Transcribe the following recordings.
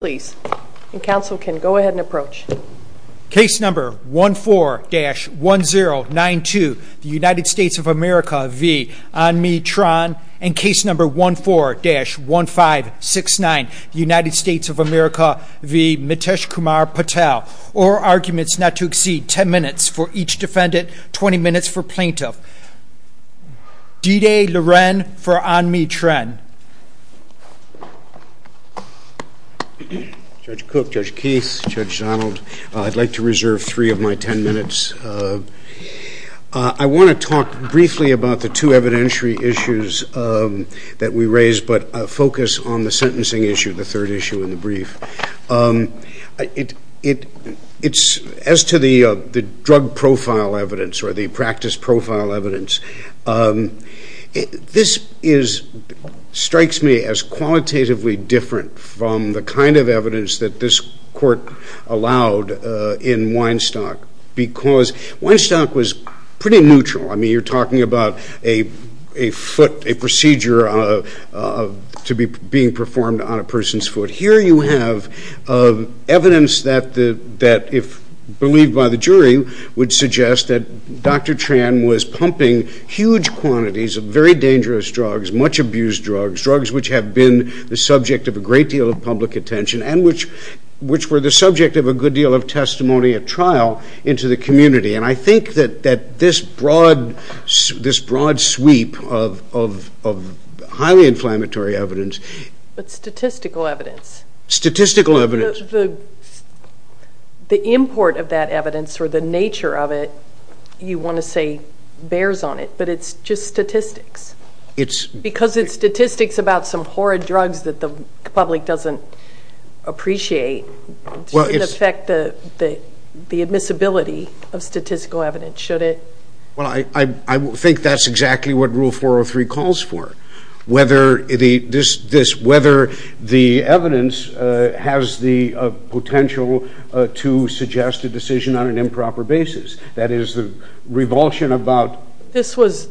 please and counsel can go ahead and approach case number 14-1092 the United States of America v. Anmy Tran and case number 14-1569 United States of America v. Miteshkumar Patel or arguments not to exceed 10 minutes for each defendant 20 minutes for plaintiff D-Day Lorraine for Anmy Tran. Judge Cook, Judge Keith, Judge Donald I'd like to reserve three of my ten minutes I want to talk briefly about the two evidentiary issues that we raised but focus on the sentencing issue the third issue in the brief it it it's as to the the drug profile evidence or the practice profile evidence. This is strikes me as qualitatively different from the kind of evidence that this court allowed in Weinstock because Weinstock was pretty neutral I mean you're talking about a a foot a procedure of to be being performed on a person's foot here you have evidence that the that if believed by the jury would suggest that Dr. Tran was pumping huge quantities of very dangerous drugs much abused drugs drugs which have been the subject of a great deal of public attention and which which were the subject of a good deal of testimony at trial into the community and I think that that this broad this broad sweep of highly inflammatory evidence but the import of that evidence or the nature of it you want to say bears on it but it's just statistics it's because it's statistics about some horrid drugs that the public doesn't appreciate well it's affect the the the admissibility of statistical evidence should it well I I think that's exactly what rule 403 calls for whether the this this whether the evidence has the potential to suggest a decision on an improper basis that is the revulsion about this was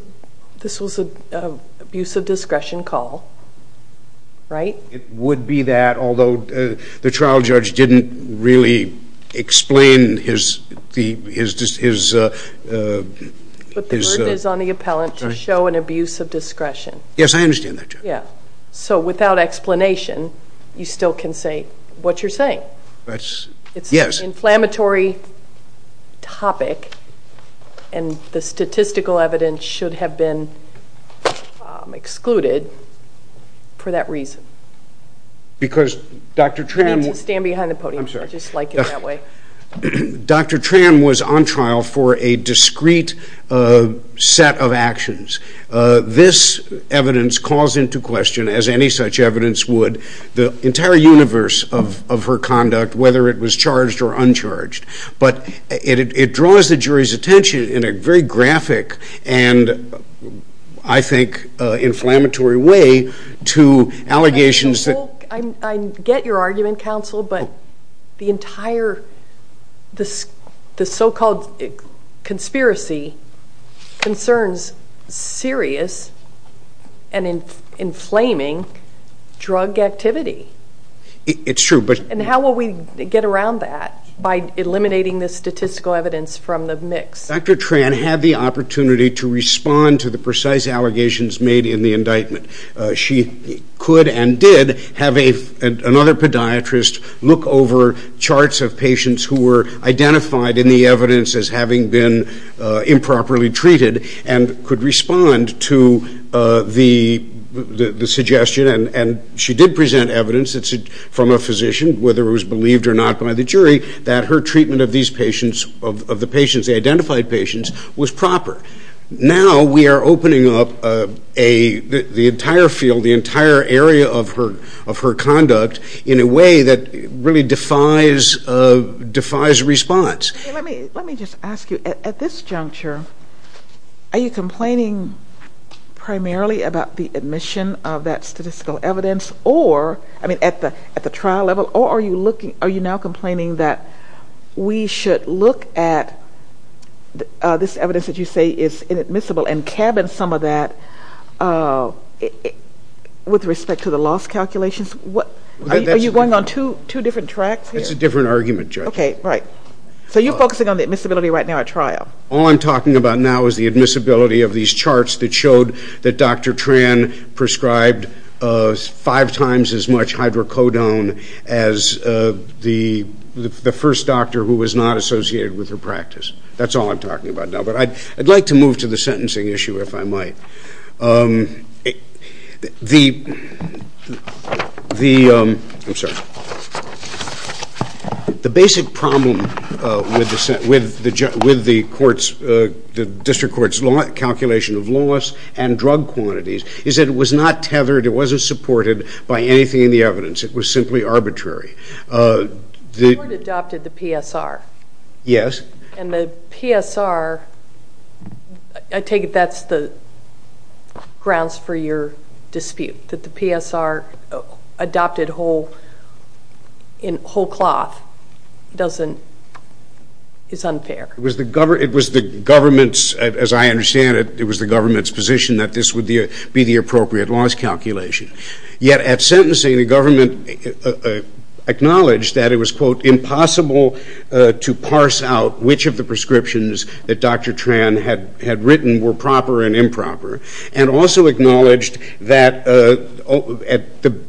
this was a abuse of discretion call right it would be that although the trial judge didn't really explain his the is just his is on the appellant to show an abuse of discretion yes I understand that yeah so without explanation you still can say what you're saying that's it's yes inflammatory topic and the statistical evidence should have been excluded for that reason because dr. Tram will stand behind the podium just like that way dr. Tram was on trial for a discreet set of actions this evidence calls into question as any such evidence would the entire universe of her conduct whether it was charged or uncharged but it draws the jury's attention in a very graphic and I think inflammatory way to but the entire this the so-called conspiracy concerns serious and in inflaming drug activity it's true but and how will we get around that by eliminating the statistical evidence from the mix dr. Tran had the opportunity to respond to the precise allegations made in the indictment she could and did have a another podiatrist look over charts of patients who were identified in the evidence as having been improperly treated and could respond to the suggestion and and she did present evidence that's it from a physician whether it was believed or not by the jury that her treatment of these patients of the patients identified patients was proper now we are opening up a the entire field the entire area of her of her conduct in a way that really defies defies response let me just ask you at this juncture are you complaining primarily about the admission of that statistical evidence or I mean at the at the trial level or are you looking are you now complaining that we should look at this evidence that you say is inadmissible and cabin some of that with respect to the loss calculations what are you going on to two different tracks it's a different argument okay right so you're focusing on the admissibility right now at trial all I'm talking about now is the admissibility of these charts that showed that dr. Tran prescribed five times as much hydrocodone as the the first doctor who was not associated with her practice that's all I'm talking about now but I'd like to move to the next slide if I might the the I'm sorry the basic problem with the set with the judge with the courts the district courts law calculation of loss and drug quantities is that it was not tethered it wasn't supported by anything in the evidence it was simply arbitrary the adopted the PSR yes and the PSR I take that's the grounds for your dispute that the PSR adopted whole in whole cloth doesn't it's unfair it was the government it was the government's as I understand it it was the government's position that this would be the appropriate loss calculation yet at sentencing the government acknowledged that it was quote impossible to parse out which of the prescriptions that dr. Tran had had written were proper and improper and also acknowledged that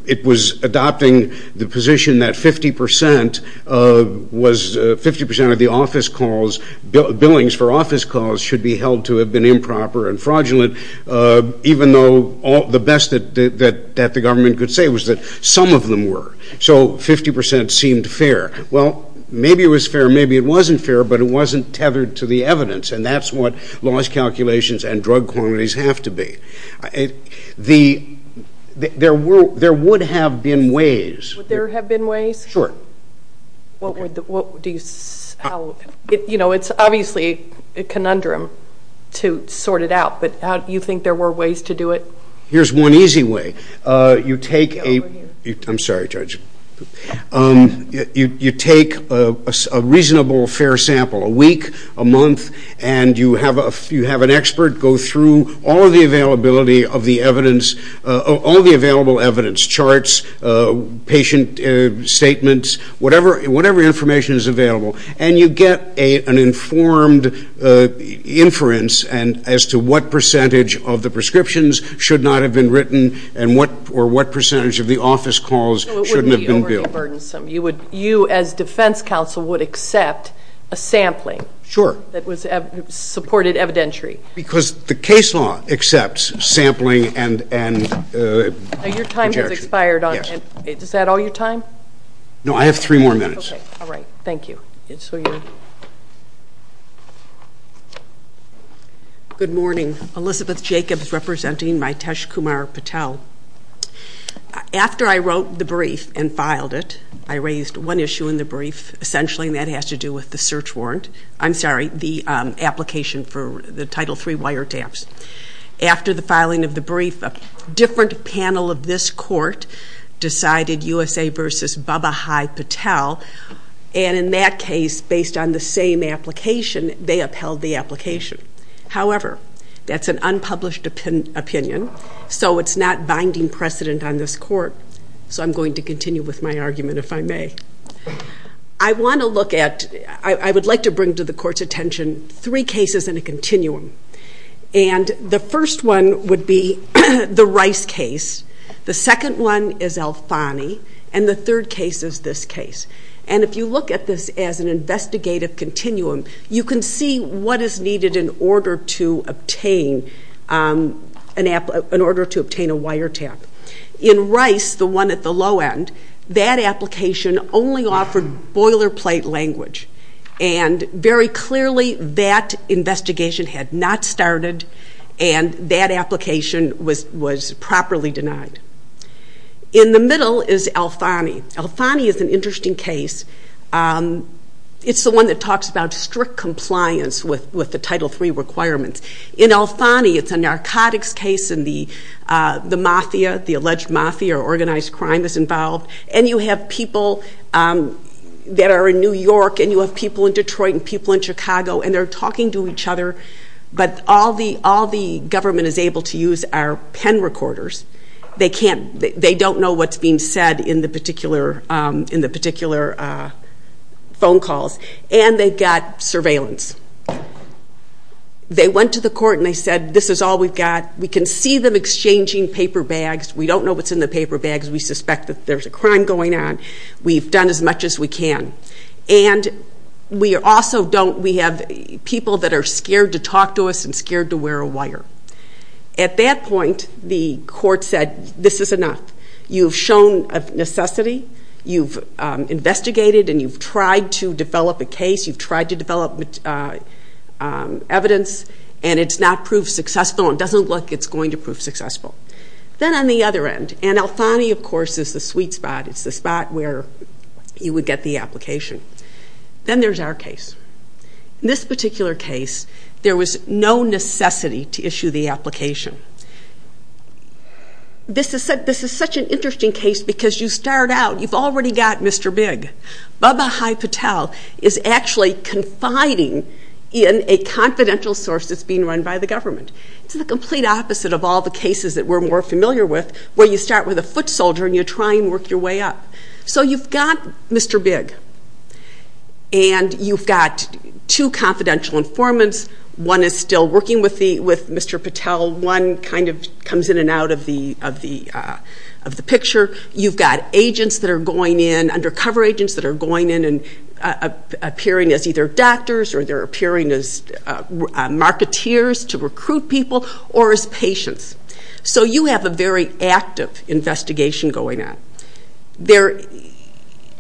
it was adopting the position that fifty percent of was fifty percent of the office calls billings for office calls should be held to have been improper and fraudulent even though all the best that the government could say was that some of them were so fifty percent seemed fair well maybe it was fair maybe it wasn't fair but it wasn't tethered to the evidence and that's what laws calculations and drug quantities have to be the there were there would have been ways there have been ways short what would the what do you know it's obviously a conundrum to sort it out but how do you think there were ways to do it here's one easy way you take a I'm sorry judge you take a reasonable fair sample a week a month and you have a few have an expert go through all of the availability of the evidence of all the available evidence charts patient statements whatever whatever information is available and you get a an informed inference and as to what percentage of the prescriptions should not have been written and what or what percentage of the office calls you would you as defense counsel would accept a sampling sure that was supported evidentiary because the case law accepts sampling and and your time has expired on it is that all your time no I have three more minutes all right thank you good morning Elizabeth Jacobs representing my test Kumar Patel after I essentially that has to do with the search warrant I'm sorry the application for the title three wiretaps after the filing of the brief a different panel of this court decided USA versus Baba Hi Patel and in that case based on the same application they upheld the application however that's an unpublished opinion so it's not binding precedent on this court so I'm going to continue with my I want to look at I would like to bring to the court's attention three cases in a continuum and the first one would be the rice case the second one is Alfani and the third case is this case and if you look at this as an investigative continuum you can see what is needed in order to obtain an app in order to obtain a wiretap in rice the one at the low end that application only offered boilerplate language and very clearly that investigation had not started and that application was was properly denied in the middle is Alfani Alfani is an interesting case it's the one that talks about strict compliance with with the title three requirements in Alfani it's a narcotics case in the the mafia the are in New York and you have people in Detroit and people in Chicago and they're talking to each other but all the all the government is able to use our pen recorders they can't they don't know what's being said in the particular in the particular phone calls and they've got surveillance they went to the court and they said this is all we've got we can see them exchanging paper bags we don't know what's in the paper bags we suspect that there's a can and we also don't we have people that are scared to talk to us and scared to wear a wire at that point the court said this is enough you've shown a necessity you've investigated and you've tried to develop a case you've tried to develop evidence and it's not proved successful and doesn't look it's going to prove successful then on the other end and Alfani of course is the sweet spot it's the spot where you would get the application then there's our case in this particular case there was no necessity to issue the application this is said this is such an interesting case because you start out you've already got mr. big baba hi Patel is actually confiding in a confidential source that's being run by the government it's the complete opposite of all the cases that we're more familiar with where you start with a foot soldier and you try and work your way up so you've got mr. big and you've got two confidential informants one is still working with the with mr. Patel one kind of comes in and out of the of the of the picture you've got agents that are going in undercover agents that are going in and appearing as either doctors or they're appearing as marketeers to recruit people or as patients so you have a very active investigation going on there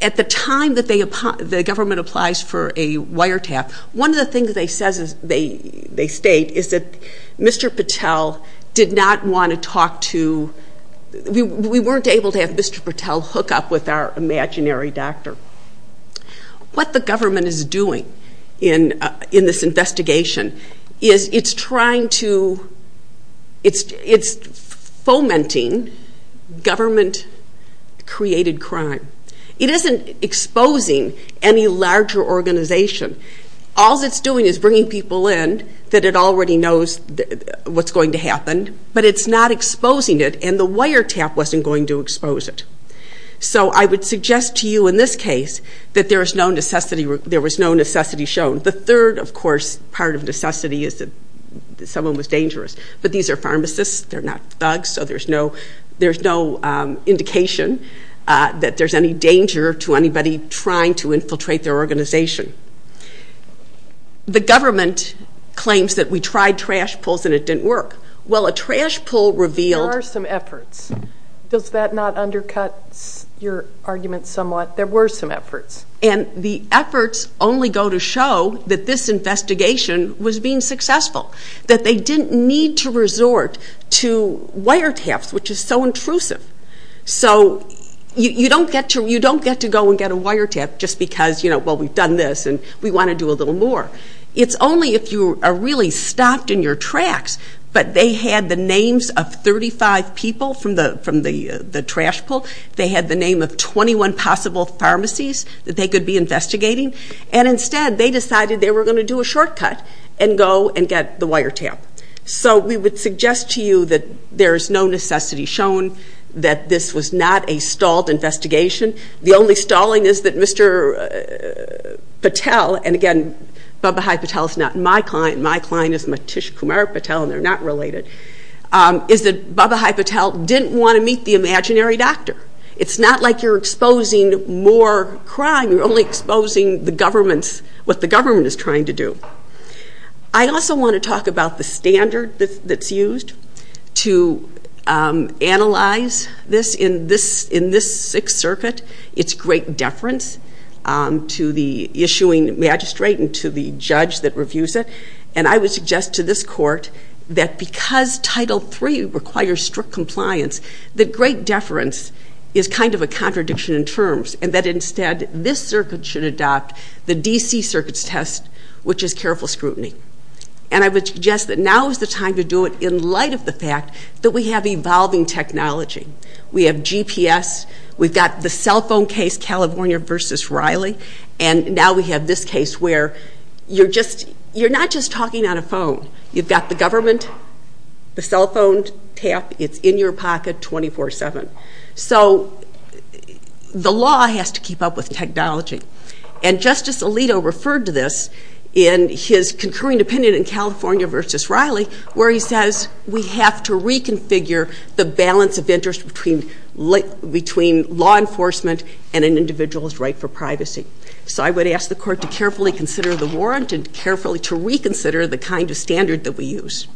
at the time that they upon the government applies for a wiretap one of the things they says is they they state is that mr. Patel did not want to talk to we weren't able to have mr. Patel hook up with our imaginary doctor what the government is doing in in this fomenting government created crime it isn't exposing any larger organization all that's doing is bringing people in that it already knows what's going to happen but it's not exposing it and the wiretap wasn't going to expose it so I would suggest to you in this case that there is no necessity there was no necessity shown the third of course part of necessity is that someone was there's no there's no indication that there's any danger to anybody trying to infiltrate their organization the government claims that we tried trash pulls and it didn't work well a trash pull revealed some efforts does that not undercut your argument somewhat there were some efforts and the efforts only go to show that this investigation was being successful that they didn't need to resort to wiretaps which is so intrusive so you don't get to you don't get to go and get a wiretap just because you know what we've done this and we want to do a little more it's only if you are really stopped in your tracks but they had the names of 35 people from the from the the trash pull they had the name of 21 possible pharmacies that they could be investigating and instead they were going to do a shortcut and go and get the wiretap so we would suggest to you that there's no necessity shown that this was not a stalled investigation the only stalling is that Mr. Patel and again Babahi Patel is not my client my client is Matish Kumar Patel and they're not related is that Babahi Patel didn't want to meet the imaginary doctor it's not like you're exposing more crime we're only exposing the government's what the government is trying to do I also want to talk about the standard that's used to analyze this in this in this Sixth Circuit it's great deference to the issuing magistrate and to the judge that reviews it and I would suggest to this court that because title three requires strict compliance that great deference is kind of a should adopt the DC Circuit's test which is careful scrutiny and I would suggest that now is the time to do it in light of the fact that we have evolving technology we have GPS we've got the cell phone case California versus Riley and now we have this case where you're just you're not just talking on a phone you've got the government the cell phone tap it's in your pocket 24-7 so the law has to keep up with technology and Justice Alito referred to this in his concurring opinion in California versus Riley where he says we have to reconfigure the balance of interest between like between law enforcement and an individual's right for privacy so I would ask the court to carefully consider the warrant and carefully to reconsider the kind of standard that we use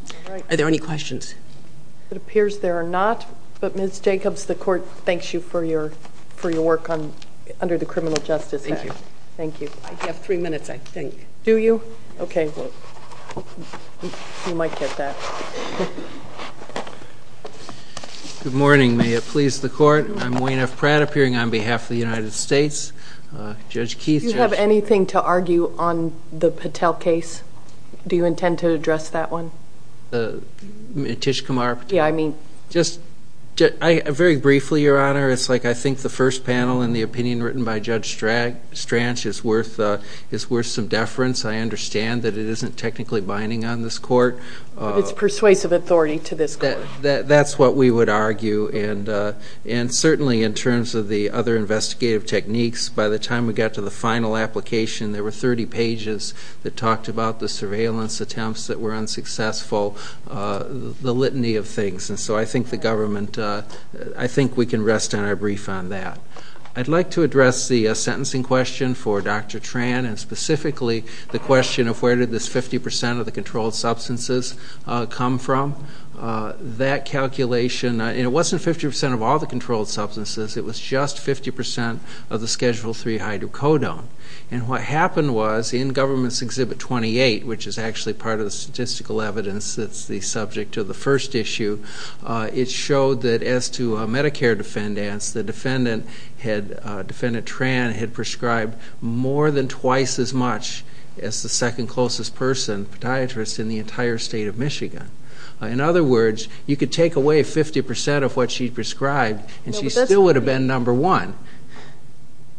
are there any questions it appears there are not but miss Jacobs the court thanks you for your for your work on under the criminal justice thank you you have three minutes I think do you okay you might get that good morning may it please the court I'm Wayne F Pratt appearing on behalf of the United States judge Keith you have anything to argue on the Patel case do you intend to honor it's like I think the first panel in the opinion written by judge drag stranches worth is worth some deference I understand that it isn't technically binding on this court it's persuasive authority to this that that's what we would argue and and certainly in terms of the other investigative techniques by the time we got to the final application there were 30 pages that talked about the surveillance attempts that were unsuccessful the litany of things and so I think the government I think we can rest on our brief on that I'd like to address the sentencing question for dr. Tran and specifically the question of where did this 50% of the controlled substances come from that calculation and it wasn't 50% of all the controlled substances it was just 50% of the schedule 3 hydrocodone and what happened was in government's exhibit 28 which is actually part of the statistical evidence that's the subject of the first issue it showed that as to a Medicare defendants the defendant had defendant Tran had prescribed more than twice as much as the second closest person podiatrist in the entire state of Michigan in other words you could take away 50% of what she prescribed and she still would have been number one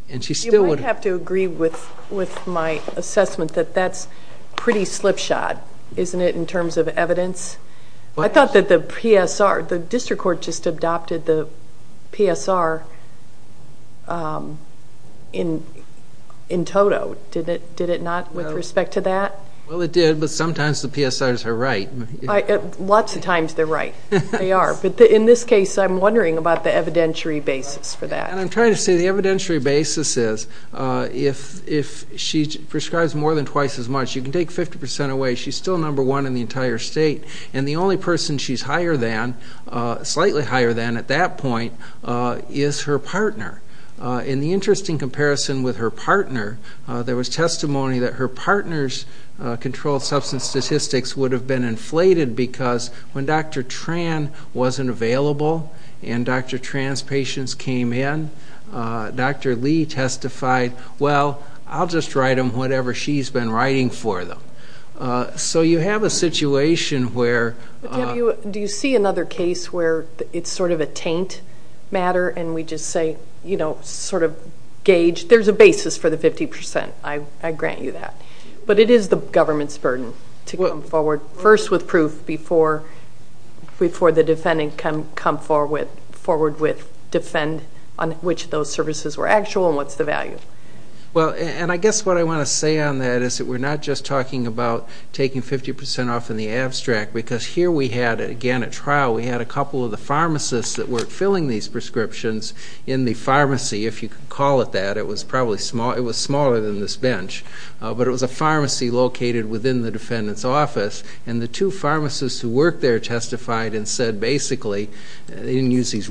and she still would have to agree with with my assessment that that's pretty evidence I thought that the PSR the district court just adopted the PSR in in total did it did it not with respect to that well it did but sometimes the PSR is her right I get lots of times they're right they are but in this case I'm wondering about the evidentiary basis for that and I'm trying to say the evidentiary basis is if if she prescribes more than twice as much you take 50% away she's still number one in the entire state and the only person she's higher than slightly higher than at that point is her partner in the interesting comparison with her partner there was testimony that her partner's controlled substance statistics would have been inflated because when dr. Tran wasn't available and dr. trans patients came in dr. Lee testified well I'll just write them whatever she's been writing for them so you have a situation where do you see another case where it's sort of a taint matter and we just say you know sort of gauge there's a basis for the 50% I grant you that but it is the government's burden to come forward first with proof before before the defendant can come forward with defend on which those services were what's the value well and I guess what I want to say on that is that we're not just talking about taking 50% off in the abstract because here we had it again at trial we had a couple of the pharmacists that were filling these prescriptions in the pharmacy if you can call it that it was probably small it was smaller than this bench but it was a pharmacy located within the defendant's office and the two pharmacists who work there testified and said basically they didn't use these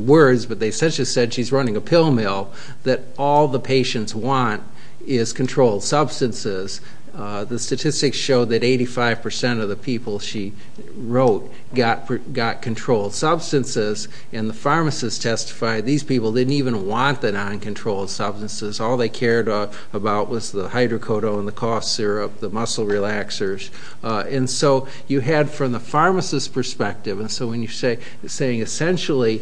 pill mill that all the patients want is controlled substances the statistics show that 85% of the people she wrote got got controlled substances and the pharmacist testified these people didn't even want the non-controlled substances all they cared about was the hydrocodone the cough syrup the muscle relaxers and so you had from the pharmacist perspective and so when you say saying essentially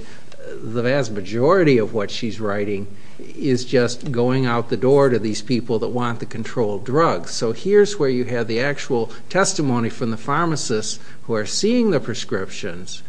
the vast majority of what she's writing is just going out the door to these people that want the control drugs so here's where you have the actual testimony from the pharmacist who are seeing the prescriptions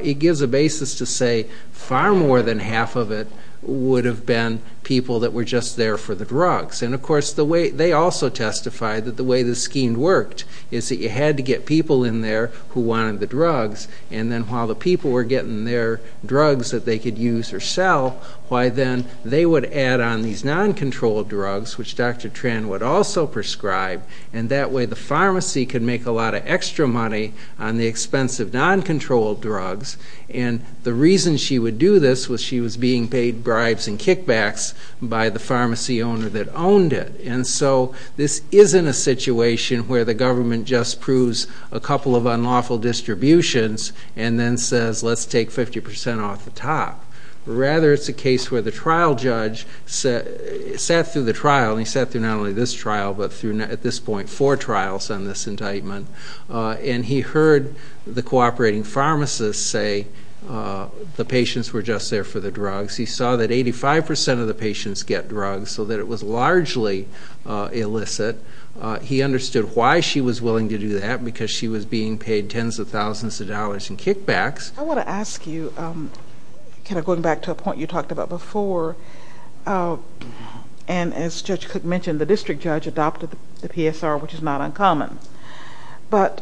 it gives a basis to say far more than half of it would have been people that were just there for the drugs and of course the way they also testified that the way the scheme worked is that you had to get people in there who wanted the drugs and then while the people were getting their drugs that they could use or sell why then they would add on these non-controlled drugs which Dr. Tran would also prescribe and that way the pharmacy could make a lot of extra money on the expense of non-controlled drugs and the reason she would do this was she was being paid bribes and kickbacks by the pharmacy owner that owned it and so this isn't a situation where the government just proves a couple of unlawful distributions and then says let's take 50% off the top rather it's a case where the trial judge sat through the trial and he sat through not only this trial but through at this point four trials on this indictment and he heard the cooperating pharmacists say the patients were just there for the drugs he saw that 85% of the patients get drugs so that it was largely illicit he was being paid tens of thousands of dollars in kickbacks. I want to ask you kind of going back to a point you talked about before and as Judge Cook mentioned the district judge adopted the PSR which is not uncommon but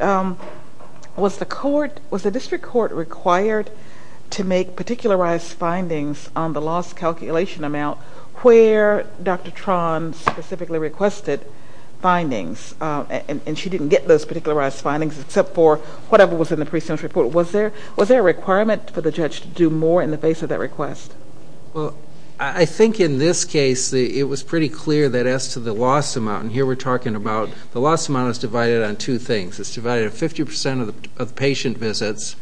was the court was the district court required to make particularized findings on the loss calculation amount where Dr. Tran specifically requested findings and she didn't get those particularized findings except for whatever was in the pre-sentence report was there was there a requirement for the judge to do more in the face of that request? Well I think in this case it was pretty clear that as to the loss amount and here we're talking about the loss amount is divided on two things it's divided 50% of the patient visits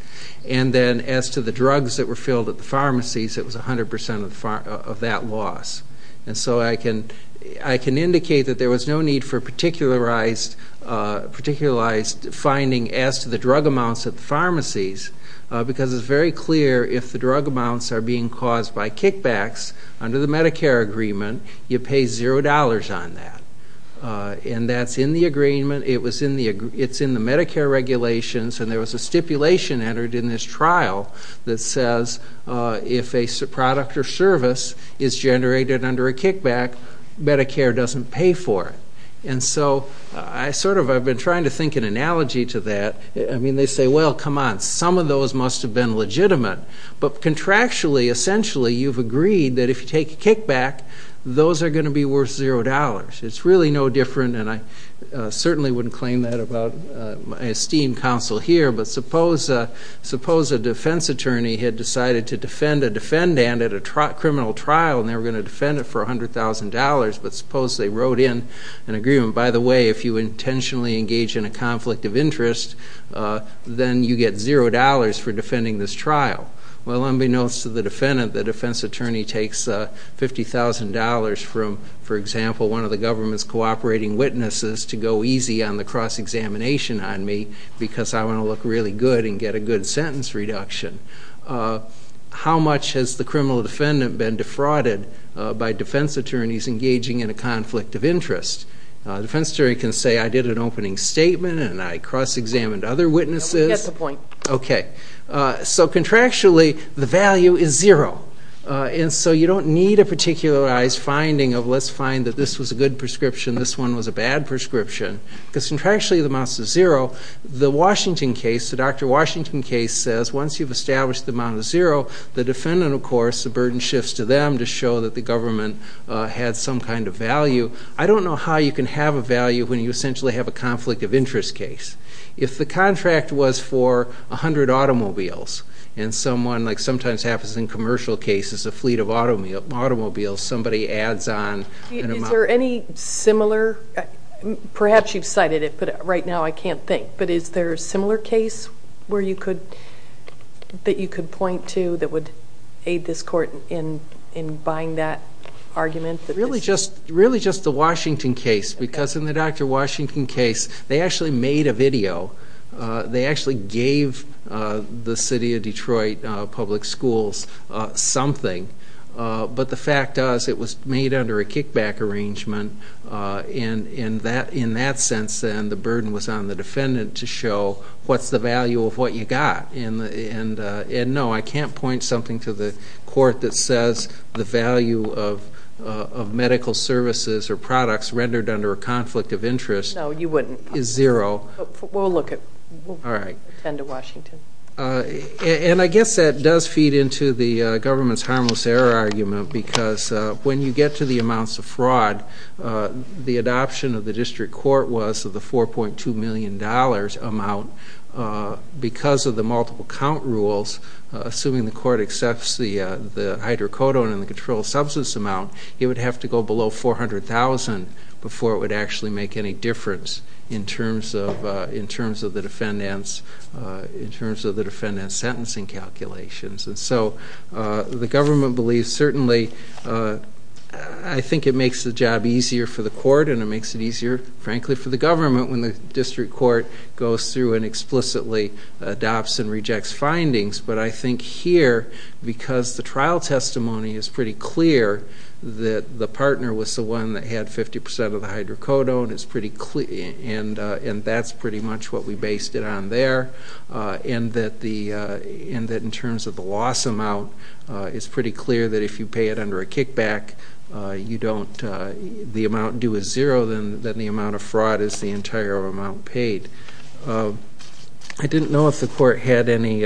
and then as to the drugs that were filled at the pharmacies it was a hundred percent of that loss and so I can I can indicate that there was no need for particularized particularized finding as to the drug amounts at pharmacies because it's very clear if the drug amounts are being caused by kickbacks under the Medicare agreement you pay zero dollars on that and that's in the agreement it was in the it's in the Medicare regulations and there was a stipulation entered in this kickback Medicare doesn't pay for it and so I sort of I've been trying to think an analogy to that I mean they say well come on some of those must have been legitimate but contractually essentially you've agreed that if you take a kickback those are going to be worth zero dollars it's really no different and I certainly wouldn't claim that about my esteemed counsel here but suppose suppose a defense attorney had decided to defend a defendant at a criminal trial and they were going to defend it for $100,000 but suppose they wrote in an agreement by the way if you intentionally engage in a conflict of interest then you get zero dollars for defending this trial well unbeknownst to the defendant the defense attorney takes $50,000 from for example one of the government's cooperating witnesses to go easy on the cross-examination on me because I want to look really good and get a good sentence reduction how much has the criminal defendant been defrauded by defense attorneys engaging in a conflict of interest defense jury can say I did an opening statement and I cross-examined other witnesses the point okay so contractually the value is zero and so you don't need a particular eyes finding of let's find that this was a good prescription this one was a bad prescription because contractually the mouse is zero the Washington case the dr. Washington case says once you've of course the burden shifts to them to show that the government had some kind of value I don't know how you can have a value when you essentially have a conflict of interest case if the contract was for a hundred automobiles and someone like sometimes happens in commercial cases a fleet of automobiles somebody adds on there any similar perhaps you've cited it but right now I can't think but is there a similar case where you could that you could point to that would aid this court in in buying that argument that really just really just the Washington case because in the dr. Washington case they actually made a video they actually gave the city of Detroit public schools something but the fact does it was made under a kickback arrangement and in that in that sense and the burden was on the defendant to show what's the value of what you got and and and no I can't point something to the court that says the value of of medical services or products rendered under a conflict of interest now you wouldn't is zero we'll look at all right and to Washington and I guess that does feed into the government's harmless error argument because when you get to the amounts of fraud the adoption of the district court was of the four point two million dollars amount because of the multiple count rules assuming the court accepts the the hydrocodone and the control substance amount it would have to go below 400,000 before it would actually make any difference in terms of in terms of the defendants in terms of the defendant's sentencing calculations and so the government believes certainly I think it makes the job easier for the court and it makes it easier frankly for the government when the district court goes through and explicitly adopts and rejects findings but I think here because the trial testimony is pretty clear that the partner was the one that had 50% of the hydrocodone it's pretty clear and and that's pretty much what we based it on there and that the and that in terms of the loss amount it's pretty clear that if you pay it under a kickback you don't the amount due is zero then that the amount of fraud is the entire amount paid I didn't know if the court had any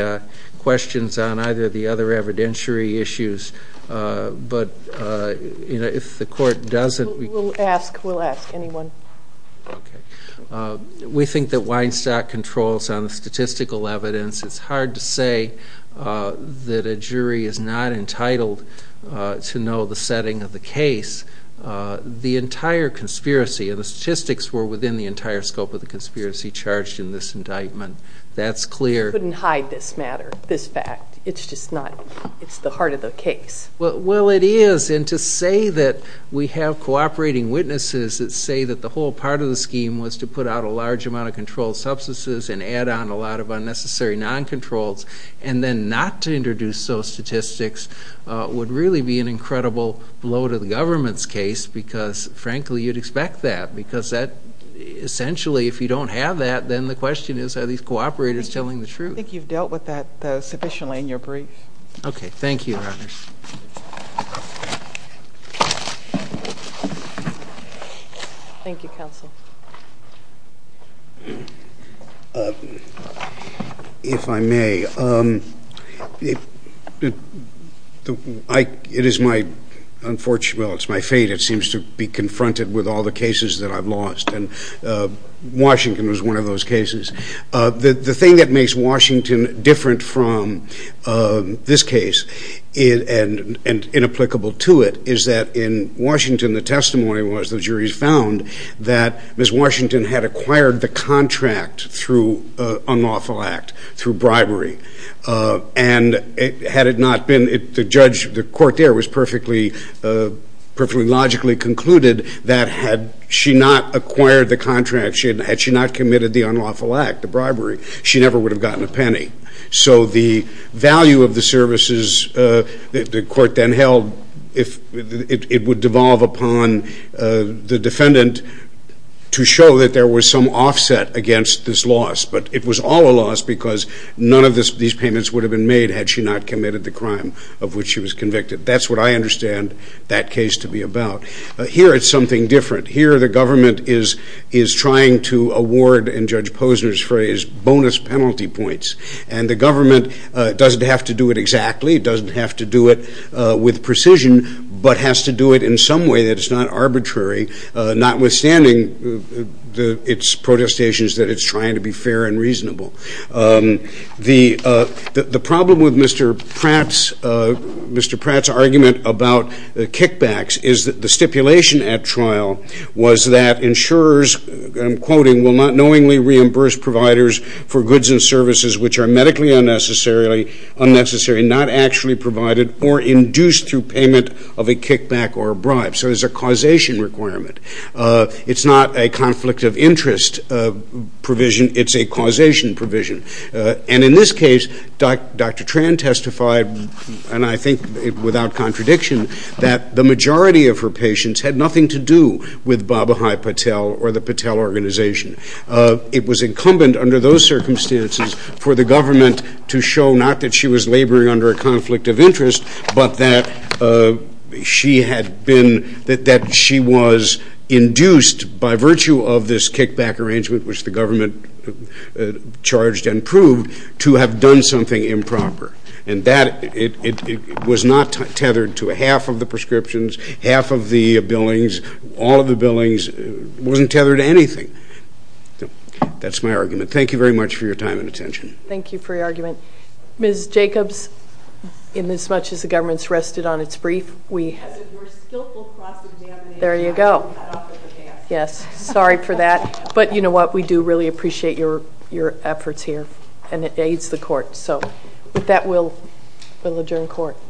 questions on either the other evidentiary issues but you know if the court doesn't ask we'll ask anyone okay we think that Weinstock controls on the statistical evidence it's hard to say that a jury is not entitled to know the setting of the case the entire conspiracy of the statistics were within the entire scope of the conspiracy charged in this indictment that's clear couldn't hide this matter this fact it's just not it's the heart of the case well it is and to say that we have cooperating witnesses that say that the whole part of the scheme was to put out a large amount of controlled substances and add on a lot of unnecessary non-controlled and then not to introduce those statistics would really be an incredible blow to the government's case because frankly you'd expect that because that essentially if you don't have that then the question is are these cooperators telling the truth you've dealt with that sufficiently in a brief okay thank you if I may it is my unfortunate it's my fate it seems to be confronted with all the cases that I've lost and Washington was one of those cases that the thing that makes Washington different from this case it and and inapplicable to it is that in Washington the testimony was the jury's found that miss Washington had acquired the contract through unlawful act through bribery and it had it not been it the judge the court there was perfectly perfectly logically concluded that had she not acquired the contract she had she not committed the unlawful act the bribery she never would have gotten a penny so the value of the services that the court then held if it would devolve upon the defendant to show that there was some offset against this loss but it was all a loss because none of this these payments would have been made had she not committed the crime of which she was convicted that's what I understand that case to be about here it's something different here the trying to award and judge Posner's phrase bonus penalty points and the government doesn't have to do it exactly doesn't have to do it with precision but has to do it in some way that it's not arbitrary notwithstanding the its protestations that it's trying to be fair and reasonable the the problem with Mr. Pratt's Mr. Pratt's argument about the kickbacks is that the stipulation at insurers I'm quoting will not knowingly reimburse providers for goods and services which are medically unnecessarily unnecessary not actually provided or induced through payment of a kickback or a bribe so there's a causation requirement it's not a conflict of interest provision it's a causation provision and in this case Dr. Tran testified and I think without contradiction that the majority of her patients had nothing to do with Abhai Patel or the Patel organization it was incumbent under those circumstances for the government to show not that she was laboring under a conflict of interest but that she had been that that she was induced by virtue of this kickback arrangement which the government charged and proved to have done something improper and that it was not tethered to a half of the wasn't tethered to anything that's my argument thank you very much for your time and attention thank you for your argument miss Jacobs in this much as the government's rested on its brief we there you go yes sorry for that but you know what we do really appreciate your your efforts here and it aids the court so that will will adjourn court